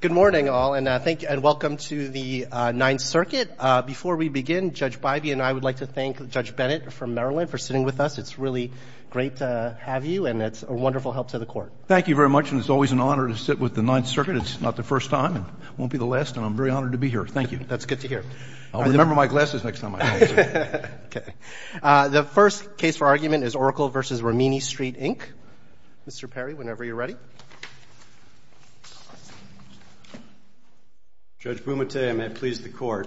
Good morning, all, and welcome to the Ninth Circuit. Before we begin, Judge Bybee and I would like to thank Judge Bennett from Maryland for sitting with us. It's really great to have you, and it's a wonderful help to the Court. Thank you very much, and it's always an honor to sit with the Ninth Circuit. It's not the first time and it won't be the last, and I'm very honored to be here. Thank you. That's good to hear. I'll remember my glasses next time I talk to you. The first case for argument is Oracle v. Rimini Street, Inc. Mr. Perry, whenever you're ready. Judge Bumate, I may have pleased the Court.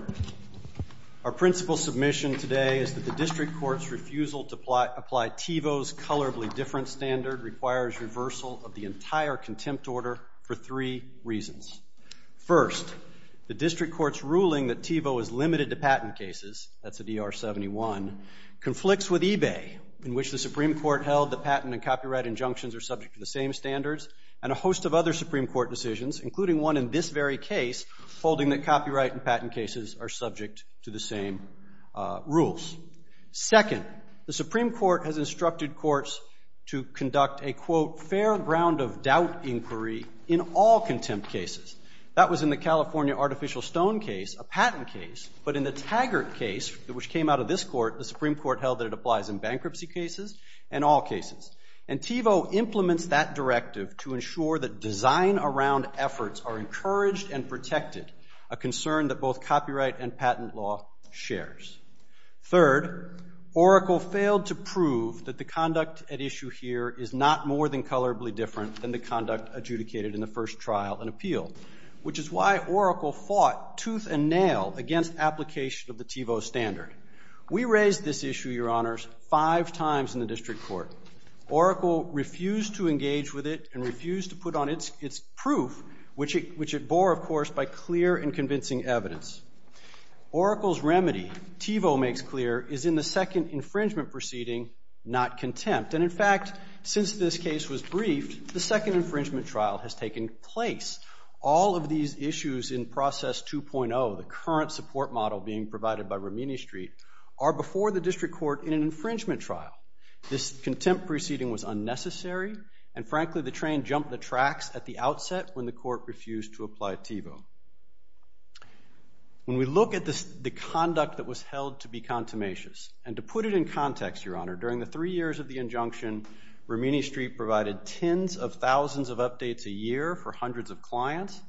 Our principal submission today is that the district court's refusal to apply TiVo's colorably different standard requires reversal of the entire contempt order for three reasons. First, the district court's ruling that TiVo is limited to patent cases, that's a DR-71, conflicts with eBay, in which the Supreme Court held that patent and copyright injunctions are subject to the same standards, and a host of other Supreme Court decisions, including one in this very case, holding that copyright and patent cases are subject to the same rules. Second, the Supreme Court has instructed courts to conduct a, quote, fair ground of doubt inquiry in all contempt cases. That was in the California artificial stone case, a patent case, but in the Taggart case, which came out of this court, the Supreme Court held that it applies in bankruptcy cases and all cases. And TiVo implements that directive to ensure that design around efforts are encouraged and protected, a concern that both copyright and patent law shares. Third, Oracle failed to prove that the conduct at issue here is not more than colorably different than the conduct adjudicated in the first trial and appeal, which is why Oracle fought tooth and nail against application of the TiVo standard. We raised this issue, Your Honors, five times in the district court. Oracle refused to engage with it and refused to put on its proof, which it bore, of course, by clear and convincing evidence. Oracle's remedy, TiVo makes clear, is in the second infringement proceeding, not contempt. And in fact, since this case was briefed, the second infringement trial has taken place. All of these issues in process 2.0, the current support model being provided by Romini Street, are before the district court in an infringement trial. This contempt proceeding was unnecessary, and frankly, the train jumped the tracks at the outset when the court refused to apply TiVo. When we look at the conduct that was held to be contumacious, and to put it in context, Your Honor, during the three years of the injunction, Romini Street provided tens of thousands of updates a year for hundreds of clients,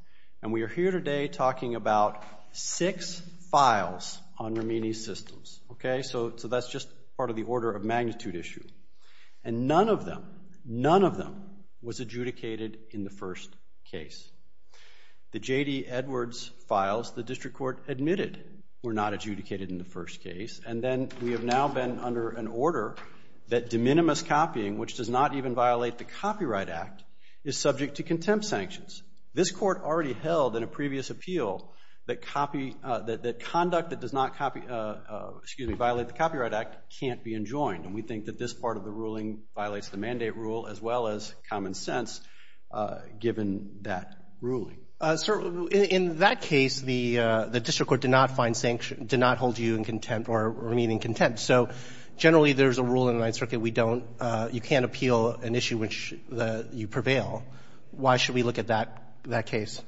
and we are here today talking about six files on Romini's systems. Okay, so that's just part of the order of magnitude issue. And none of them, none of them was adjudicated in the first case. The J.D. Edwards files, the district court admitted were not adjudicated in the first case, and then we have now been under an order that de minimis copying, which does not even violate the Copyright Act, is subject to contempt sanctions. This court already held in a previous appeal that conduct that does not violate the Copyright Act can't be enjoined, and we think that this part of the ruling violates the mandate rule as well as common sense, given that ruling. So in that case, the district court did not find sanctions, did not hold you in contempt or remain in contempt. So generally there's a rule in the Ninth Circuit we don't, you can't appeal an issue which you prevail. Why should we look at that case?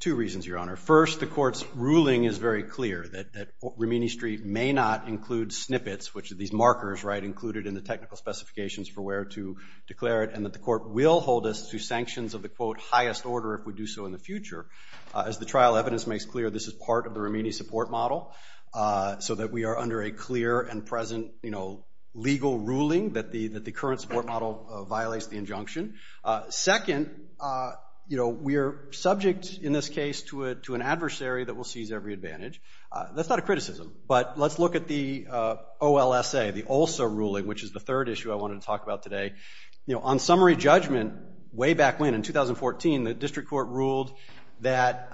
Two reasons, Your Honor. First, the court's ruling is very clear that Romini Street may not include snippets, which are these markers, right, included in the technical specifications for where to declare it, and that the court will hold us to sanctions of the quote highest order if we do so in the future. As the trial evidence makes clear, this is part of the Romini support model, so that we are under a clear and present legal ruling that the current support model violates the injunction. Second, we are subject in this case to an adversary that will seize every advantage. That's not a criticism, but let's look at the OLSA, the Olsa ruling, which is the third issue I wanted to talk about today. You know, on summary judgment way back when, in 2014, the district court ruled that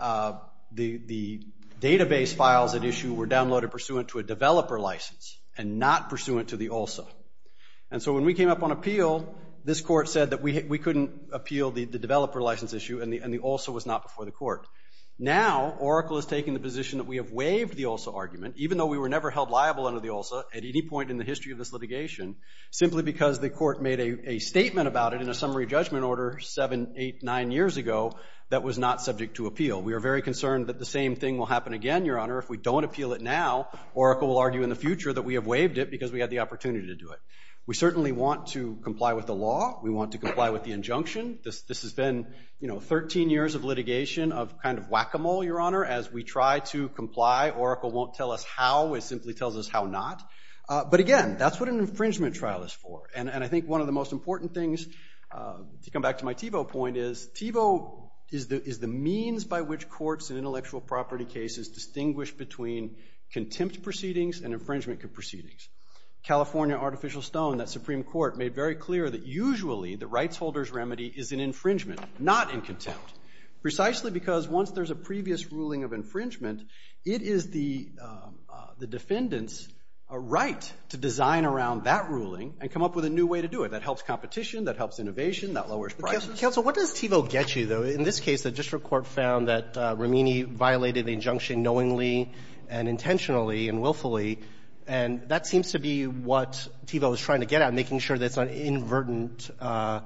the database files at issue were downloaded pursuant to a developer license and not pursuant to the OLSA. And so when we came up on appeal, this court said that we couldn't appeal the developer license issue and the OLSA was not before the court. Now, Oracle is taking the position that we have waived the OLSA argument, even though we were never held liable under the OLSA at any point in the history of this litigation, simply because the court made a statement about it in a summary judgment order seven, eight, nine years ago that was not subject to appeal. We are very concerned that the same thing will happen again, Your Honor. If we don't appeal it now, Oracle will argue in the future that we have waived it because we had the opportunity to do it. We certainly want to comply with the law. We want to comply with the injunction. This has been, you know, 13 years of litigation, of kind of whack-a-mole, Your Honor. As we try to comply, Oracle won't tell us how. It simply tells us how not. But again, that's what an infringement trial is for. And I think one of the most important things, to come back to my Thiebaud point, is Thiebaud is the means by which courts in intellectual property cases distinguish between contempt proceedings and infringement proceedings. California Artificial Stone, that Supreme Court, made very clear that usually the rights holder's remedy is in infringement, not in contempt, precisely because once there's a previous ruling of infringement, it is the defendant's right to design around that ruling and come up with a new way to do it. That helps competition. That helps innovation. That lowers prices. Counsel, what does Thiebaud get you, though? In this case, the district court found that Romini violated the injunction knowingly and intentionally and willfully, and that seems to be what Thiebaud is trying to get at, making sure that it's not an inadvertent error.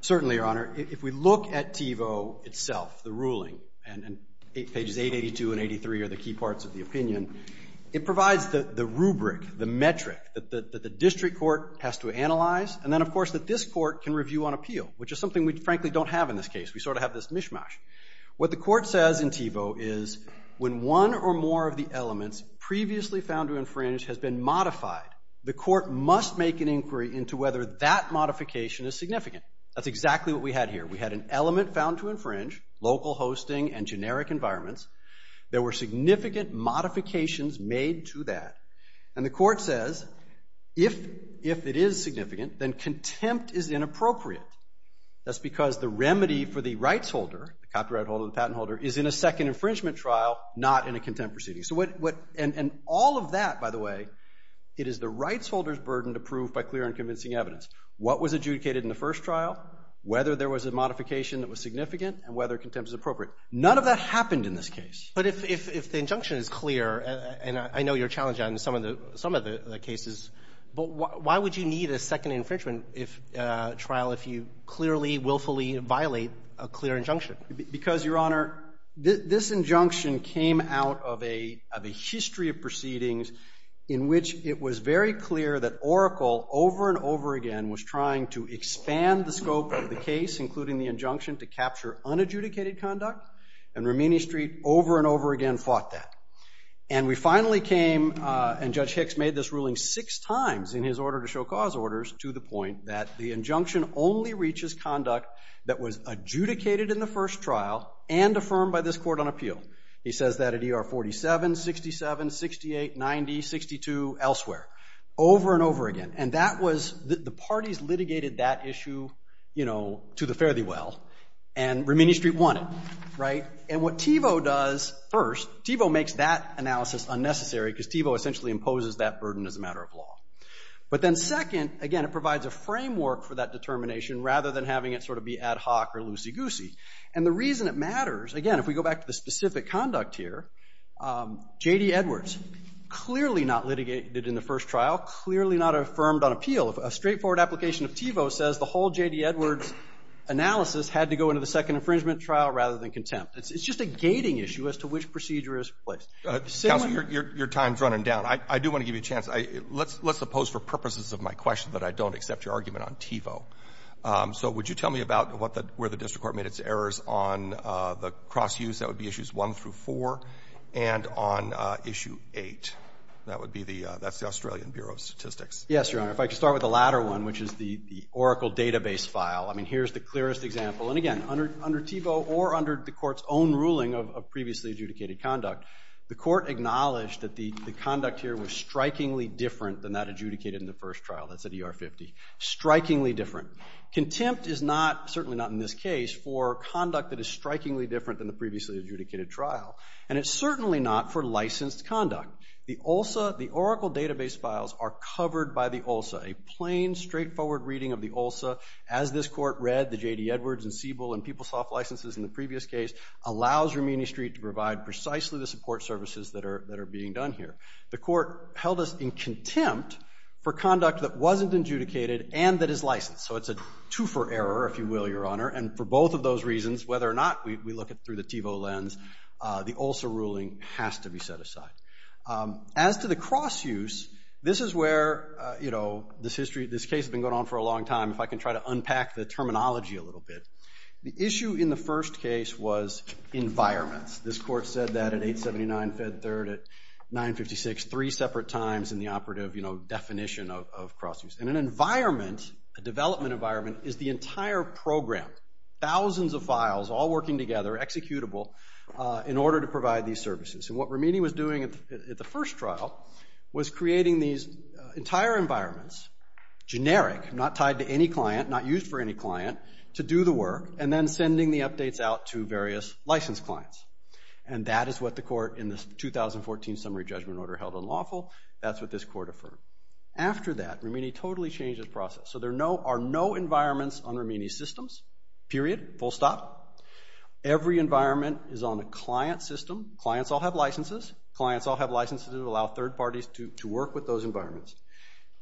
Certainly, Your Honor. If we look at Thiebaud itself, the ruling, and pages 882 and 83 are the key parts of the opinion, it provides the rubric, the metric that the district court has to analyze and then, of course, that this court can review on appeal, which is something we, frankly, don't have in this case. We sort of have this mishmash. What the court says in Thiebaud is when one or more of the elements previously found to infringe has been modified, the court must make an inquiry into whether that modification is significant. That's exactly what we had here. We had an element found to infringe, local hosting, and generic environments. There were significant modifications made to that, and the court says if it is significant, then contempt is inappropriate. That's because the remedy for the rights holder, the copyright holder, the patent holder, is in a second infringement trial, not in a contempt proceeding. And all of that, by the way, it is the rights holder's burden to prove by clear and convincing evidence. What was adjudicated in the first trial, whether there was a modification that was significant, and whether contempt is appropriate. None of that happened in this case. But if the injunction is clear, and I know you're challenged on some of the cases, but why would you need a second infringement trial if you clearly, willfully violate a clear injunction? In which it was very clear that Oracle, over and over again, was trying to expand the scope of the case, including the injunction to capture unadjudicated conduct. And Romini Street, over and over again, fought that. And we finally came, and Judge Hicks made this ruling six times in his order to show cause orders, to the point that the injunction only reaches conduct that was adjudicated in the first trial, and affirmed by this court on appeal. He says that at ER 47, 67, 68, 90, 62, elsewhere. Over and over again. And that was, the parties litigated that issue, you know, to the fare-thee-well, and Romini Street won it, right? And what TiVo does first, TiVo makes that analysis unnecessary because TiVo essentially imposes that burden as a matter of law. But then second, again, it provides a framework for that determination rather than having it sort of be ad hoc or loosey-goosey. And the reason it matters, again, if we go back to the specific conduct here, J.D. Edwards clearly not litigated in the first trial, clearly not affirmed on appeal. A straightforward application of TiVo says the whole J.D. Edwards analysis had to go into the second infringement trial rather than contempt. It's just a gating issue as to which procedure is placed. Counsel, your time is running down. I do want to give you a chance. Let's suppose for purposes of my question that I don't accept your argument on TiVo. So would you tell me about where the district court made its errors on the cross-use? That would be Issues 1 through 4. And on Issue 8, that's the Australian Bureau of Statistics. Yes, Your Honor. If I could start with the latter one, which is the Oracle database file. I mean, here's the clearest example. And again, under TiVo or under the court's own ruling of previously adjudicated conduct, the court acknowledged that the conduct here was strikingly different than that adjudicated in the first trial. That's at ER 50. Strikingly different. Contempt is not, certainly not in this case, for conduct that is strikingly different than the previously adjudicated trial. And it's certainly not for licensed conduct. The OLSA, the Oracle database files are covered by the OLSA. A plain, straightforward reading of the OLSA, as this court read the J.D. Edwards and Siebel and PeopleSoft licenses in the previous case, allows Rumini Street to provide precisely the support services that are being done here. The court held us in contempt for conduct that wasn't adjudicated and that is licensed. So it's a two-for-error, if you will, Your Honor. And for both of those reasons, whether or not we look at it through the TiVo lens, the OLSA ruling has to be set aside. As to the cross-use, this is where, you know, this history, this case has been going on for a long time. If I can try to unpack the terminology a little bit. The issue in the first case was environments. This court said that at 879 Fed Third at 956, three separate times in the operative, you know, definition of cross-use. And an environment, a development environment, is the entire program, thousands of files all working together, executable, in order to provide these services. And what Rumini was doing at the first trial was creating these entire environments, generic, not tied to any client, not used for any client, to do the work, and then sending the updates out to various licensed clients. And that is what the court in the 2014 summary judgment order held unlawful. That's what this court affirmed. After that, Rumini totally changed his process. So there are no environments on Rumini's systems, period, full stop. Every environment is on a client system. Clients all have licenses. Clients all have licenses that allow third parties to work with those environments.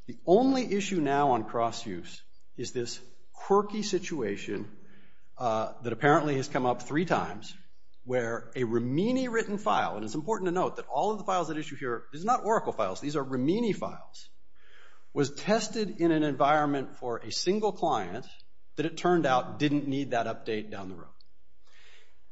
The only issue now on cross-use is this quirky situation that apparently has come up three times, where a Rumini-written file, and it's important to note that all of the files at issue here, these are not Oracle files, these are Rumini files, was tested in an environment for a single client, that it turned out didn't need that update down the road.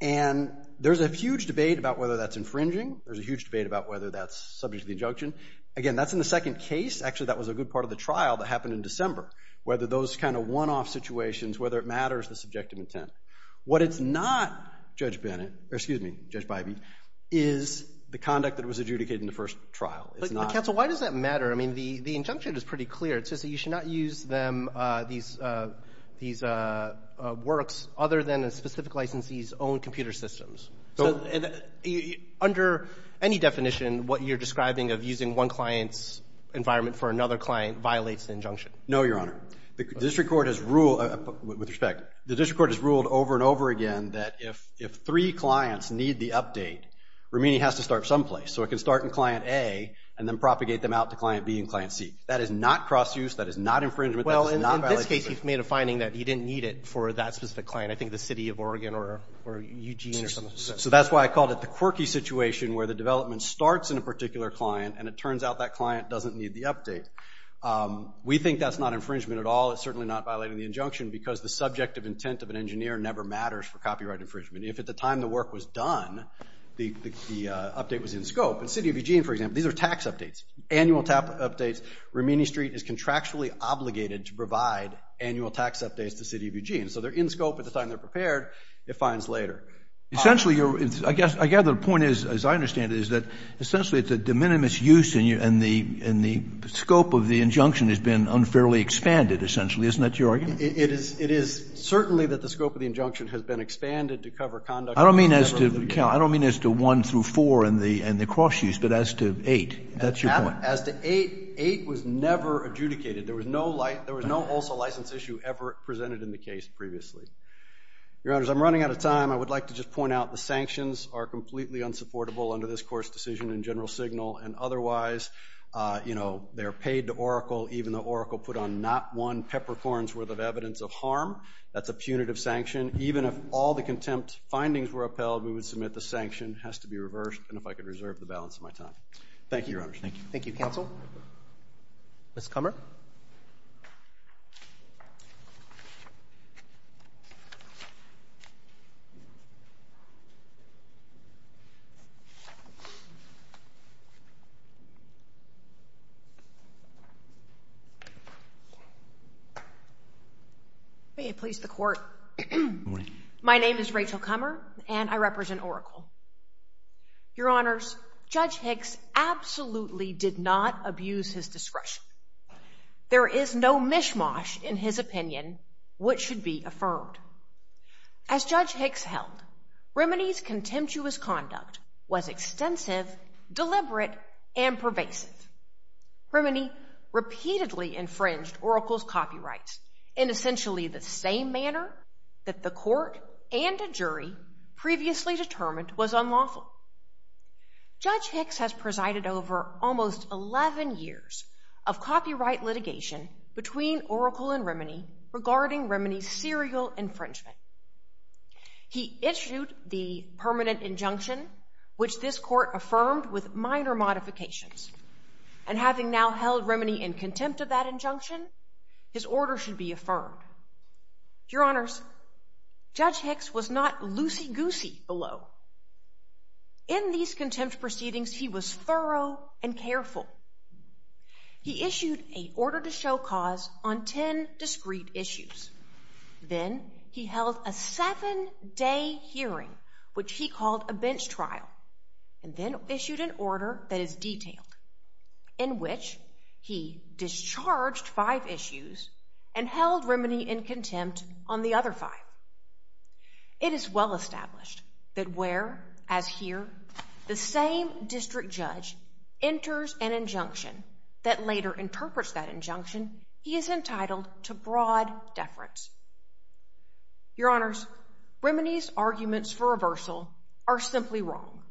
And there's a huge debate about whether that's infringing. There's a huge debate about whether that's subject to the injunction. Again, that's in the second case. Actually, that was a good part of the trial that happened in December, whether those kind of one-off situations, whether it matters, the subjective intent. What it's not, Judge Bennett, or excuse me, Judge Bybee, is the conduct that was adjudicated in the first trial. But, counsel, why does that matter? I mean, the injunction is pretty clear. It says that you should not use these works other than a specific licensee's own computer systems. Under any definition, what you're describing of using one client's environment for another client violates the injunction. No, Your Honor. The district court has ruled, with respect, the district court has ruled over and over again that if three clients need the update, Rumini has to start someplace. So it can start in client A and then propagate them out to client B and client C. That is not cross-use. That is not infringement. That is not violation. Well, in this case, you've made a finding that you didn't need it for that specific client. I think the city of Oregon or Eugene or something. So that's why I called it the quirky situation where the development starts in a particular client and it turns out that client doesn't need the update. We think that's not infringement at all. It's certainly not violating the injunction because the subjective intent of an engineer never matters for copyright infringement. If at the time the work was done, the update was in scope. In the city of Eugene, for example, these are tax updates, annual tax updates. Rumini Street is contractually obligated to provide annual tax updates to the city of Eugene. So they're in scope at the time they're prepared. It finds later. Essentially, I gather the point is, as I understand it, is that essentially it's a de minimis use and the scope of the injunction has been unfairly expanded, essentially. Isn't that your argument? It is certainly that the scope of the injunction has been expanded to cover conduct. I don't mean as to 1 through 4 and the cross-use, but as to 8. That's your point. As to 8, 8 was never adjudicated. There was no also license issue ever presented in the case previously. Your Honors, I'm running out of time. I would like to just point out the sanctions are completely unsupportable under this court's decision in general signal, and otherwise they're paid to Oracle even though Oracle put on not one peppercorn's worth of evidence of harm. That's a punitive sanction. Even if all the contempt findings were upheld, we would submit the sanction has to be reversed, and if I could reserve the balance of my time. Thank you, Your Honors. Thank you. Thank you, Counsel. Ms. Kummer. May it please the Court. Good morning. My name is Rachel Kummer, and I represent Oracle. Your Honors, Judge Hicks absolutely did not abuse his discretion. There is no mishmash in his opinion which should be affirmed. As Judge Hicks held, Remini's contemptuous conduct was extensive, deliberate, and pervasive. Remini repeatedly infringed Oracle's copyrights in essentially the same manner that the court and a jury previously determined was unlawful. Judge Hicks has presided over almost 11 years of copyright litigation between Oracle and Remini regarding Remini's serial infringement. He issued the permanent injunction, which this court affirmed with minor modifications, and having now held Remini in contempt of that injunction, his order should be affirmed. Your Honors, Judge Hicks was not loosey-goosey below. In these contempt proceedings, he was thorough and careful. He issued an order to show cause on 10 discreet issues. Then, he held a seven-day hearing, which he called a bench trial, and then issued an order that is detailed, in which he discharged five issues and held Remini in contempt on the other five. It is well established that where, as here, the same district judge enters an injunction that later interprets that injunction, he is entitled to broad deference. Your Honors, Remini's arguments for reversal are simply wrong.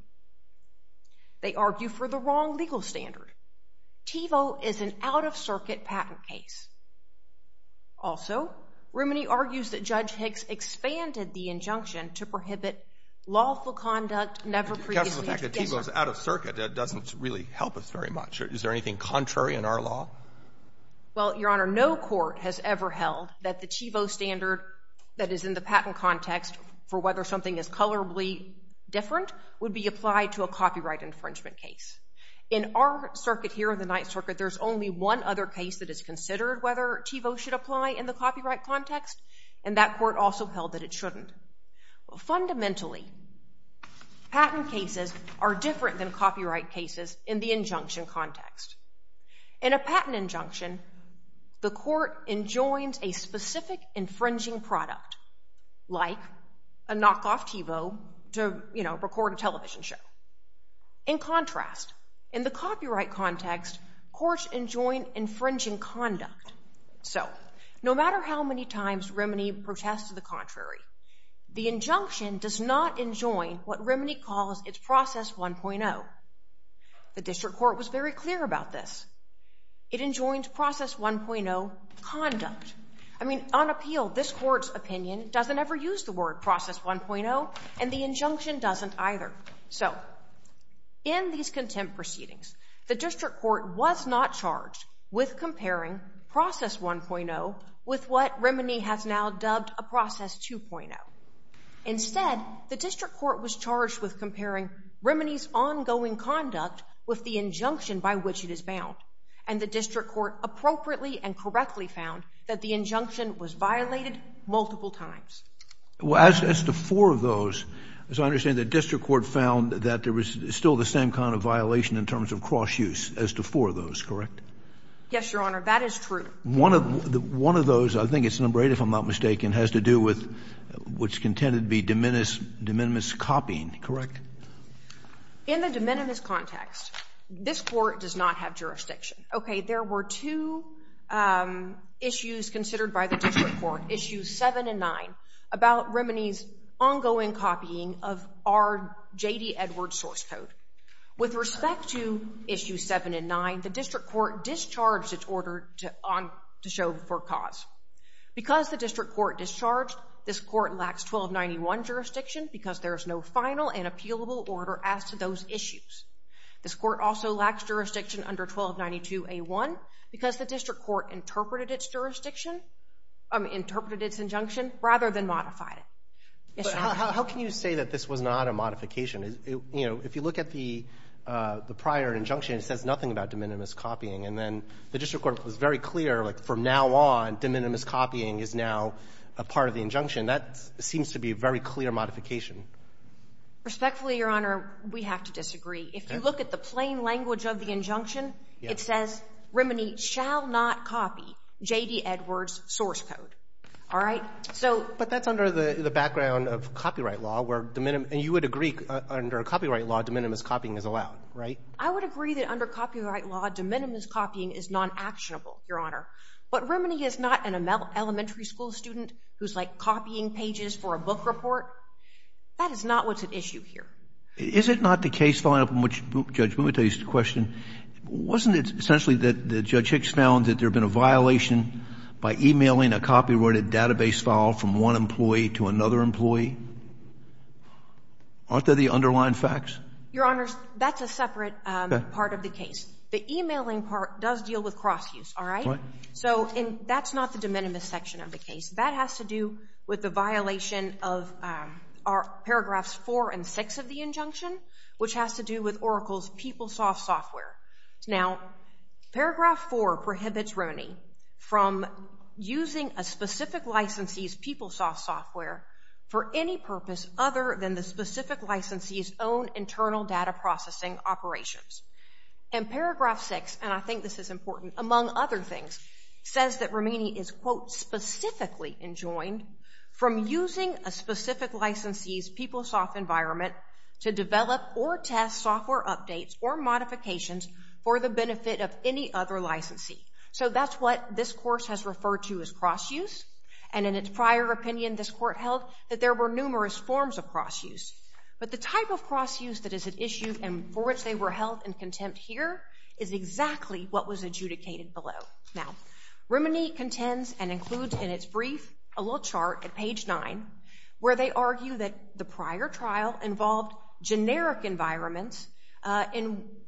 They argue for the wrong legal standard. TiVo is an out-of-circuit patent case. Also, Remini argues that Judge Hicks expanded the injunction to prohibit lawful conduct never previously The fact that TiVo is out-of-circuit, that doesn't really help us very much. Is there anything contrary in our law? Well, Your Honor, no court has ever held that the TiVo standard that is in the patent context for whether something is colorably different would be applied to a copyright infringement case. In our circuit here, the Ninth Circuit, there's only one other case that is considered whether TiVo should apply in the copyright context, and that court also held that it shouldn't. Fundamentally, patent cases are different than copyright cases in the injunction context. In a patent injunction, the court enjoins a specific infringing product, like a knockoff TiVo to record a television show. In contrast, in the copyright context, courts enjoin infringing conduct. So, no matter how many times Remini protests the contrary, the injunction does not enjoin what Remini calls its Process 1.0. The district court was very clear about this. It enjoins Process 1.0 conduct. I mean, on appeal, this court's opinion doesn't ever use the word Process 1.0, and the injunction doesn't either. So, in these contempt proceedings, the district court was not charged with comparing Process 1.0 with what Remini has now dubbed a Process 2.0. Instead, the district court was charged with comparing Remini's ongoing conduct with the injunction by which it is bound, and the district court appropriately and correctly found that the injunction was violated multiple times. Well, as to four of those, as I understand it, the district court found that there was still the same kind of violation in terms of cross-use as to four of those, correct? Yes, Your Honor, that is true. One of those, I think it's number eight if I'm not mistaken, has to do with what's contended to be de minimis copying, correct? In the de minimis context, this court does not have jurisdiction. Okay, there were two issues considered by the district court, Issues 7 and 9, about Remini's ongoing copying of our J.D. Edwards source code. With respect to Issues 7 and 9, the district court discharged its order to show for cause. Because the district court discharged, this court lacks 1291 jurisdiction because there is no final and appealable order as to those issues. This court also lacks jurisdiction under 1292A1 because the district court interpreted its injunction rather than modified it. How can you say that this was not a modification? If you look at the prior injunction, it says nothing about de minimis copying. And then the district court was very clear, like from now on, de minimis copying is now a part of the injunction. That seems to be a very clear modification. Respectfully, Your Honor, we have to disagree. If you look at the plain language of the injunction, it says, Remini shall not copy J.D. Edwards' source code. All right? So — But that's under the background of copyright law, where de minimis — and you would agree under copyright law, de minimis copying is allowed, right? I would agree that under copyright law, de minimis copying is non-actionable, Your Honor. But Remini is not an elementary school student who's, like, copying pages for a book report. That is not what's at issue here. Is it not the case following up on which, Judge, let me tell you a question. Wasn't it essentially that Judge Hicks found that there had been a violation by emailing a copyrighted database file from one employee to another employee? Aren't they the underlying facts? Your Honors, that's a separate part of the case. The emailing part does deal with cross-use, all right? So that's not the de minimis section of the case. That has to do with the violation of Paragraphs 4 and 6 of the injunction, which has to do with Oracle's PeopleSoft software. Now, Paragraph 4 prohibits Remini from using a specific licensee's PeopleSoft software for any purpose other than the specific licensee's own internal data processing operations. And Paragraph 6, and I think this is important, among other things, says that Remini is, quote, specifically enjoined from using a specific licensee's PeopleSoft environment to develop or test software updates or modifications for the benefit of any other licensee. So that's what this Course has referred to as cross-use. And in its prior opinion, this Court held that there were numerous forms of cross-use. But the type of cross-use that is at issue and for which they were held in contempt here is exactly what was adjudicated below. Now, Remini contends and includes in its brief a little chart at page 9 where they argue that the prior trial involved generic environments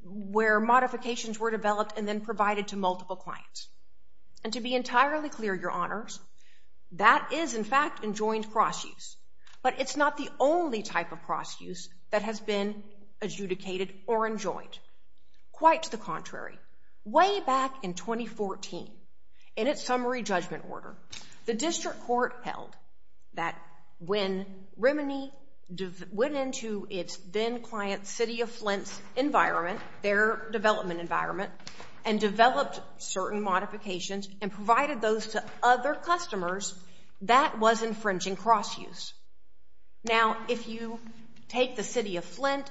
where modifications were developed and then provided to multiple clients. And to be entirely clear, Your Honors, that is, in fact, enjoined cross-use. But it's not the only type of cross-use that has been adjudicated or enjoined. Quite the contrary. Way back in 2014, in its summary judgment order, the District Court held that when Remini went into its then-client, City of Flint's environment, their development environment, and developed certain modifications and provided those to other customers, that was infringing cross-use. Now, if you take the City of Flint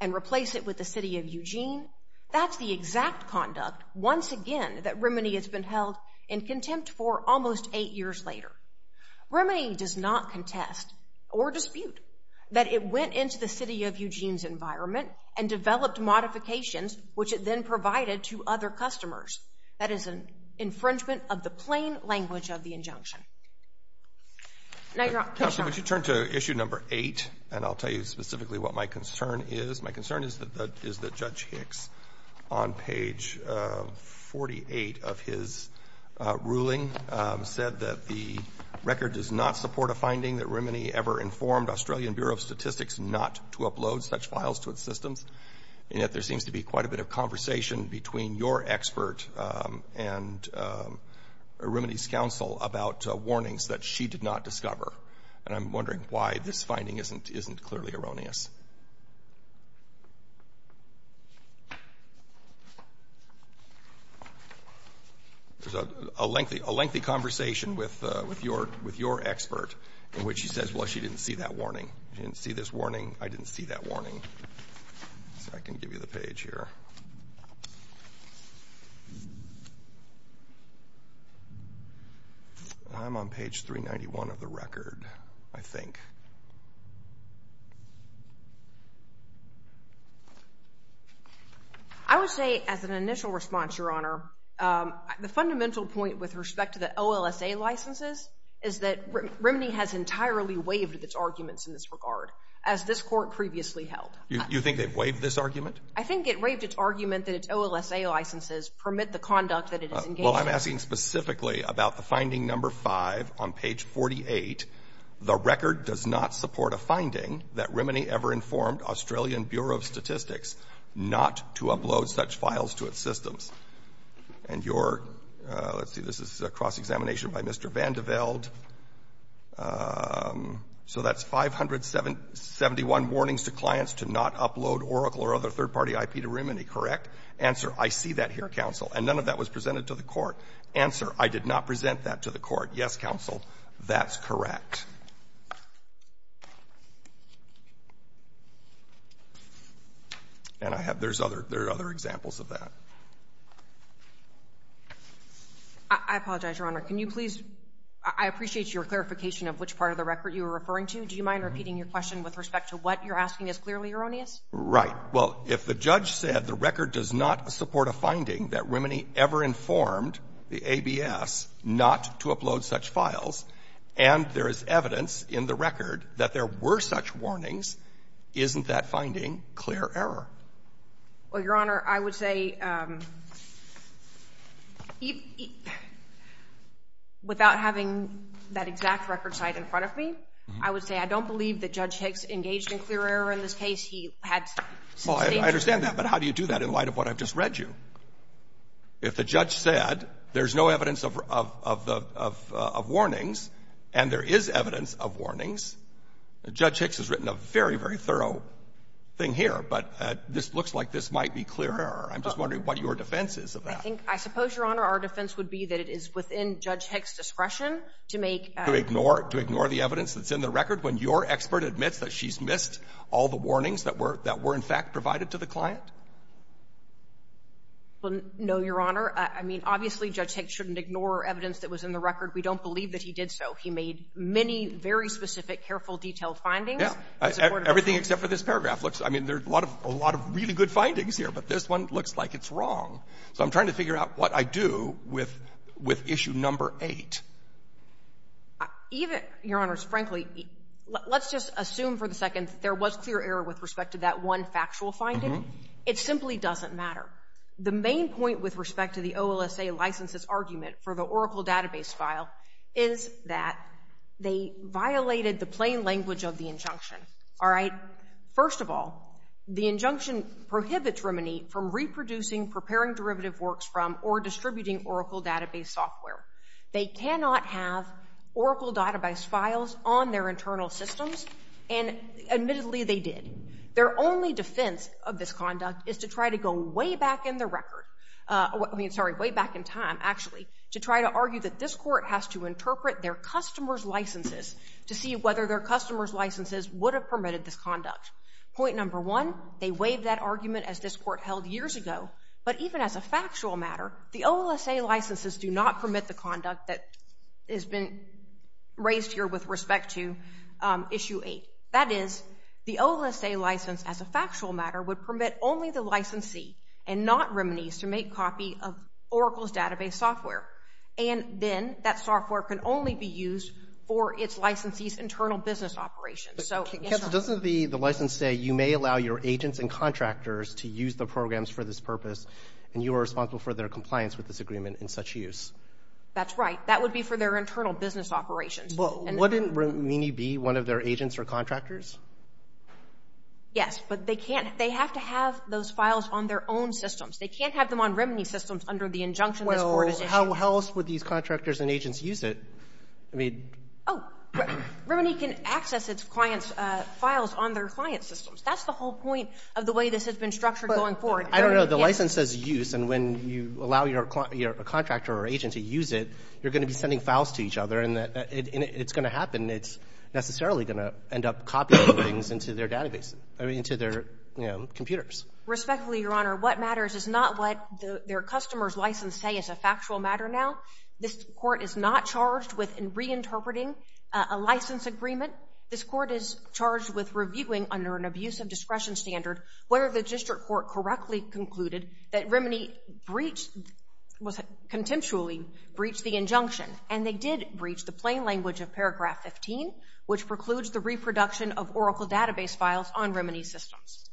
and replace it with the City of Eugene, that's the exact conduct, once again, that Remini has been held in contempt for almost eight years later. Remini does not contest or dispute that it went into the City of Eugene's environment and developed modifications which it then provided to other customers. That is an infringement of the plain language of the injunction. Counsel, would you turn to issue number eight, and I'll tell you specifically what my concern is. My concern is that Judge Hicks, on page 48 of his ruling, said that the record does not support a finding that Remini ever informed Australian Bureau of Statistics not to upload such files to its systems, and that there seems to be quite a bit of conversation between your expert and Remini's counsel about warnings that she did not discover, and I'm wondering why this finding isn't clearly erroneous. There's a lengthy conversation with your expert in which she says, well, she didn't see that warning. She didn't see this warning. I didn't see that warning. I can give you the page here. I'm on page 391 of the record, I think. I would say as an initial response, Your Honor, the fundamental point with respect to the OLSA licenses is that Remini has entirely waived its arguments in this regard, as this Court previously held. You think they've waived this argument? I think it waived its argument that its OLSA licenses permit the conduct that it has engaged in. Well, I'm asking specifically about the finding number five on page 48, the record does not support a finding that Remini ever informed Australian Bureau of Statistics not to upload such files to its systems, and your, let's see, this is a cross-examination by Mr. Vandeveld. So that's 571 warnings to clients to not upload Oracle or other third-party IP to Remini, correct? Answer, I see that here, counsel. And none of that was presented to the Court. Answer, I did not present that to the Court. Yes, counsel, that's correct. I apologize, Your Honor. Can you please, I appreciate your clarification of which part of the record you were referring to. Do you mind repeating your question with respect to what you're asking is clearly erroneous? Right. Well, if the judge said the record does not support a finding that Remini ever informed the ABS not to upload such files, and there is evidence in the record that there were such warnings, isn't that finding clear error? Well, Your Honor, I would say, without having that exact record site in front of me, I would say I don't believe that Judge Hicks engaged in clear error in this case. He had sustained clear error. Well, I understand that. But how do you do that in light of what I've just read you? If the judge said there's no evidence of warnings, and there is evidence of warnings, Judge Hicks has written a very, very thorough thing here. But this looks like this might be clear error. I'm just wondering what your defense is of that. I suppose, Your Honor, our defense would be that it is within Judge Hicks' discretion to make — To ignore the evidence that's in the record when your expert admits that she's missed all the warnings that were, in fact, provided to the client? Well, no, Your Honor. I mean, obviously, Judge Hicks shouldn't ignore evidence that was in the record. We don't believe that he did so. He made many very specific, careful, detailed findings. Yeah. Everything except for this paragraph looks — I mean, there are a lot of really good findings here, but this one looks like it's wrong. So I'm trying to figure out what I do with issue number eight. Even — Your Honor, frankly, let's just assume for a second that there was clear error with respect to that one factual finding. It simply doesn't matter. The main point with respect to the OLSA license's argument for the Oracle database file is that they violated the plain language of the injunction. All right? First of all, the injunction prohibits Remini from reproducing, preparing derivative works from, or distributing Oracle database software. They cannot have Oracle database files on their internal systems, and admittedly, they did. Their only defense of this conduct is to try to go way back in the record — I mean, actually — to try to argue that this court has to interpret their customer's licenses to see whether their customer's licenses would have permitted this conduct. Point number one, they waived that argument as this court held years ago, but even as a factual matter, the OLSA licenses do not permit the conduct that has been raised here with respect to issue eight. That is, the OLSA license, as a factual matter, would permit only the licensee and not Remini's to make copy of Oracle's database software. And then that software can only be used for its licensee's internal business operations. So, yes or no? But doesn't the license say, you may allow your agents and contractors to use the programs for this purpose, and you are responsible for their compliance with this agreement in such use? That's right. That would be for their internal business operations. But wouldn't Remini be one of their agents or contractors? Yes, but they can't. They can't have those files on their own systems. They can't have them on Remini's systems under the injunction this court issued. Well, how else would these contractors and agents use it? I mean — Oh, Remini can access its client's files on their client's systems. That's the whole point of the way this has been structured going forward. I don't know. The license says use, and when you allow your contractor or agent to use it, you're going to be sending files to each other, and it's going to happen. It's necessarily going to end up copying things into their database, I mean, into their computers. Respectfully, Your Honor, what matters is not what their customer's license say is a factual matter now. This court is not charged with reinterpreting a license agreement. This court is charged with reviewing under an abusive discretion standard whether the district court correctly concluded that Remini breached, was contemptually breached the injunction, and they did breach the plain language of paragraph 15, which precludes the reproduction of Oracle database files on Remini's systems.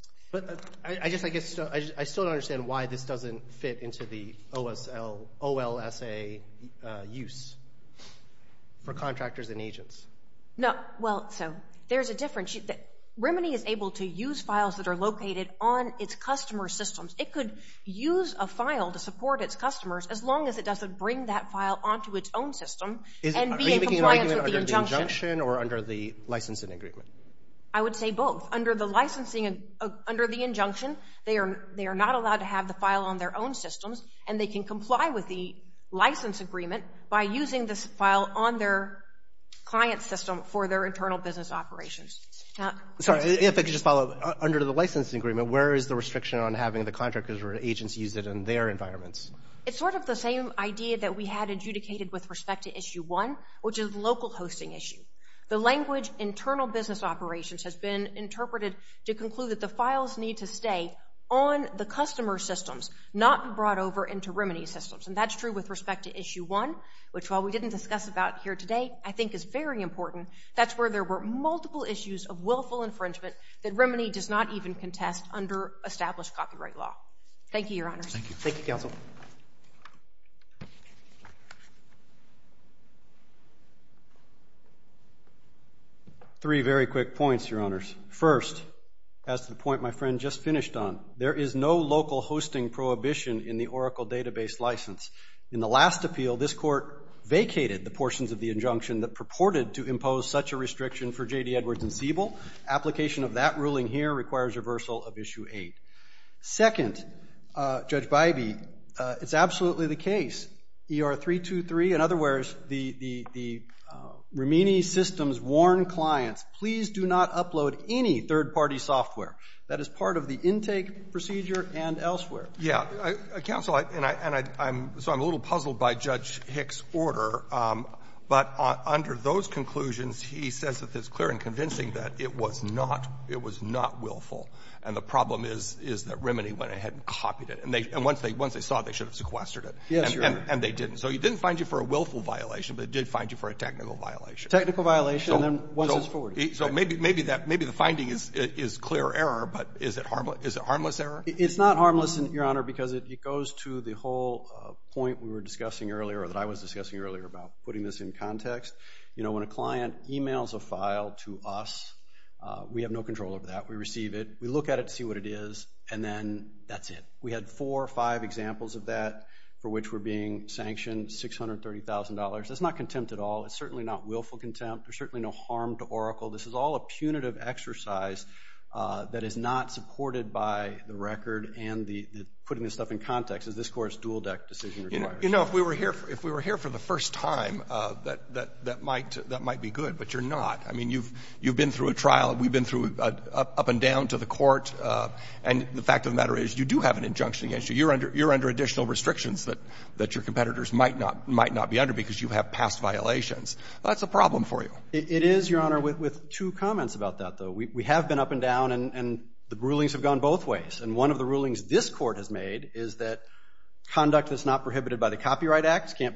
I still don't understand why this doesn't fit into the OLSA use for contractors and agents. Well, there's a difference. Remini is able to use files that are located on its customer's systems. It could use a file to support its customers as long as it doesn't bring that file onto its own system and be in compliance with the injunction. Are you making an argument under the injunction or under the licensing agreement? I would say both. Under the licensing, under the injunction, they are not allowed to have the file on their own systems, and they can comply with the license agreement by using this file on their client system for their internal business operations. Sorry, if I could just follow up. Under the licensing agreement, where is the restriction on having the contractors or agents use it in their environments? It's sort of the same idea that we had adjudicated with respect to Issue 1, which is local hosting issue. The language, internal business operations, has been interpreted to conclude that the files need to stay on the customer's systems, not brought over into Remini's systems. And that's true with respect to Issue 1, which while we didn't discuss about here today, I think is very important. That's where there were multiple issues of willful infringement that Remini does not even contest under established copyright law. Thank you, Your Honors. Thank you, Counsel. Three very quick points, Your Honors. First, as to the point my friend just finished on, there is no local hosting prohibition in the Oracle database license. In the last appeal, this Court vacated the portions of the injunction that purported to impose such a restriction for J.D. Edwards and Siebel. Application of that ruling here requires reversal of Issue 8. Second, Judge Bybee, it's absolutely the case. ER-323, in other words, the Remini systems warn clients, please do not upload any third-party software. That is part of the intake procedure and elsewhere. Yeah. Counsel, and I'm a little puzzled by Judge Hick's order, but under those conclusions, he says that it's clear and convincing that it was not. It was not willful. And the problem is that Remini went ahead and copied it, and once they saw it, they should have sequestered it. Yes, Your Honor. And they didn't. So it didn't find you for a willful violation, but it did find you for a technical violation. Technical violation, and then once it's forwarded. So maybe the finding is clear error, but is it harmless error? It's not harmless, Your Honor, because it goes to the whole point we were discussing earlier or that I was discussing earlier about putting this in context. You know, when a client emails a file to us, we have no control over that. We receive it, we look at it to see what it is, and then that's it. We had four or five examples of that for which we're being sanctioned $630,000. That's not contempt at all. It's certainly not willful contempt. There's certainly no harm to Oracle. This is all a punitive exercise that is not supported by the record and putting this stuff in context, as this Court's dual-deck decision requires. You know, if we were here for the first time, that might be good, but you're not. I mean, you've been through a trial. We've been up and down to the court, and the fact of the matter is you do have an injunction against you. You're under additional restrictions that your competitors might not be under because you have past violations. That's a problem for you. It is, Your Honor, with two comments about that, though. We have been up and down, and the rulings have gone both ways, and one of the rulings this Court has made can't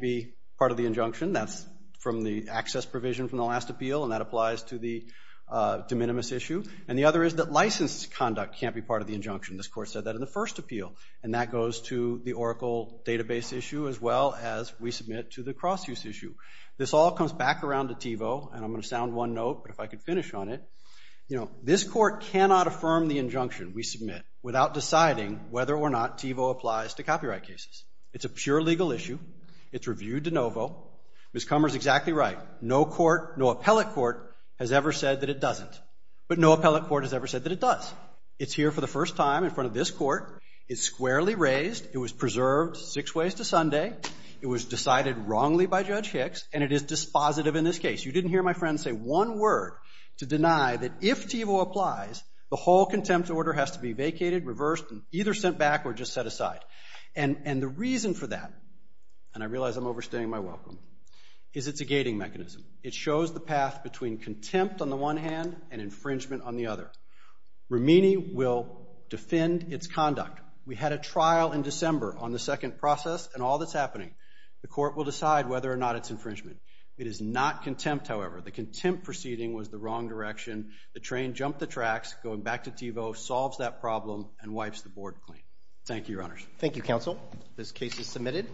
be part of the injunction. That's from the access provision from the last appeal, and that applies to the de minimis issue. And the other is that license conduct can't be part of the injunction. This Court said that in the first appeal, and that goes to the Oracle database issue as well as we submit to the cross-use issue. This all comes back around to TiVo, and I'm going to sound one note, but if I could finish on it. This Court cannot affirm the injunction we submit without deciding whether or not TiVo applies to copyright cases. It's a pure legal issue. It's reviewed de novo. Ms. Kummer's exactly right. No court, no appellate court, has ever said that it doesn't. But no appellate court has ever said that it does. It's here for the first time in front of this Court. It's squarely raised. It was preserved six ways to Sunday. It was decided wrongly by Judge Hicks, and it is dispositive in this case. You didn't hear my friend say one word to deny that if TiVo applies, the whole contempt order has to be vacated, reversed, and either sent back or just set aside. And the reason for that, and I realize I'm overstaying my welcome, is it's a gating mechanism. It shows the path between contempt on the one hand and infringement on the other. Romini will defend its conduct. We had a trial in December on the second process, and all that's happening, the Court will decide whether or not it's infringement. It is not contempt, however. The contempt proceeding was the wrong direction. The train jumped the tracks going back to TiVo, solves that problem, and wipes the board clean. Thank you, Your Honors. Thank you, Counsel. This case is submitted.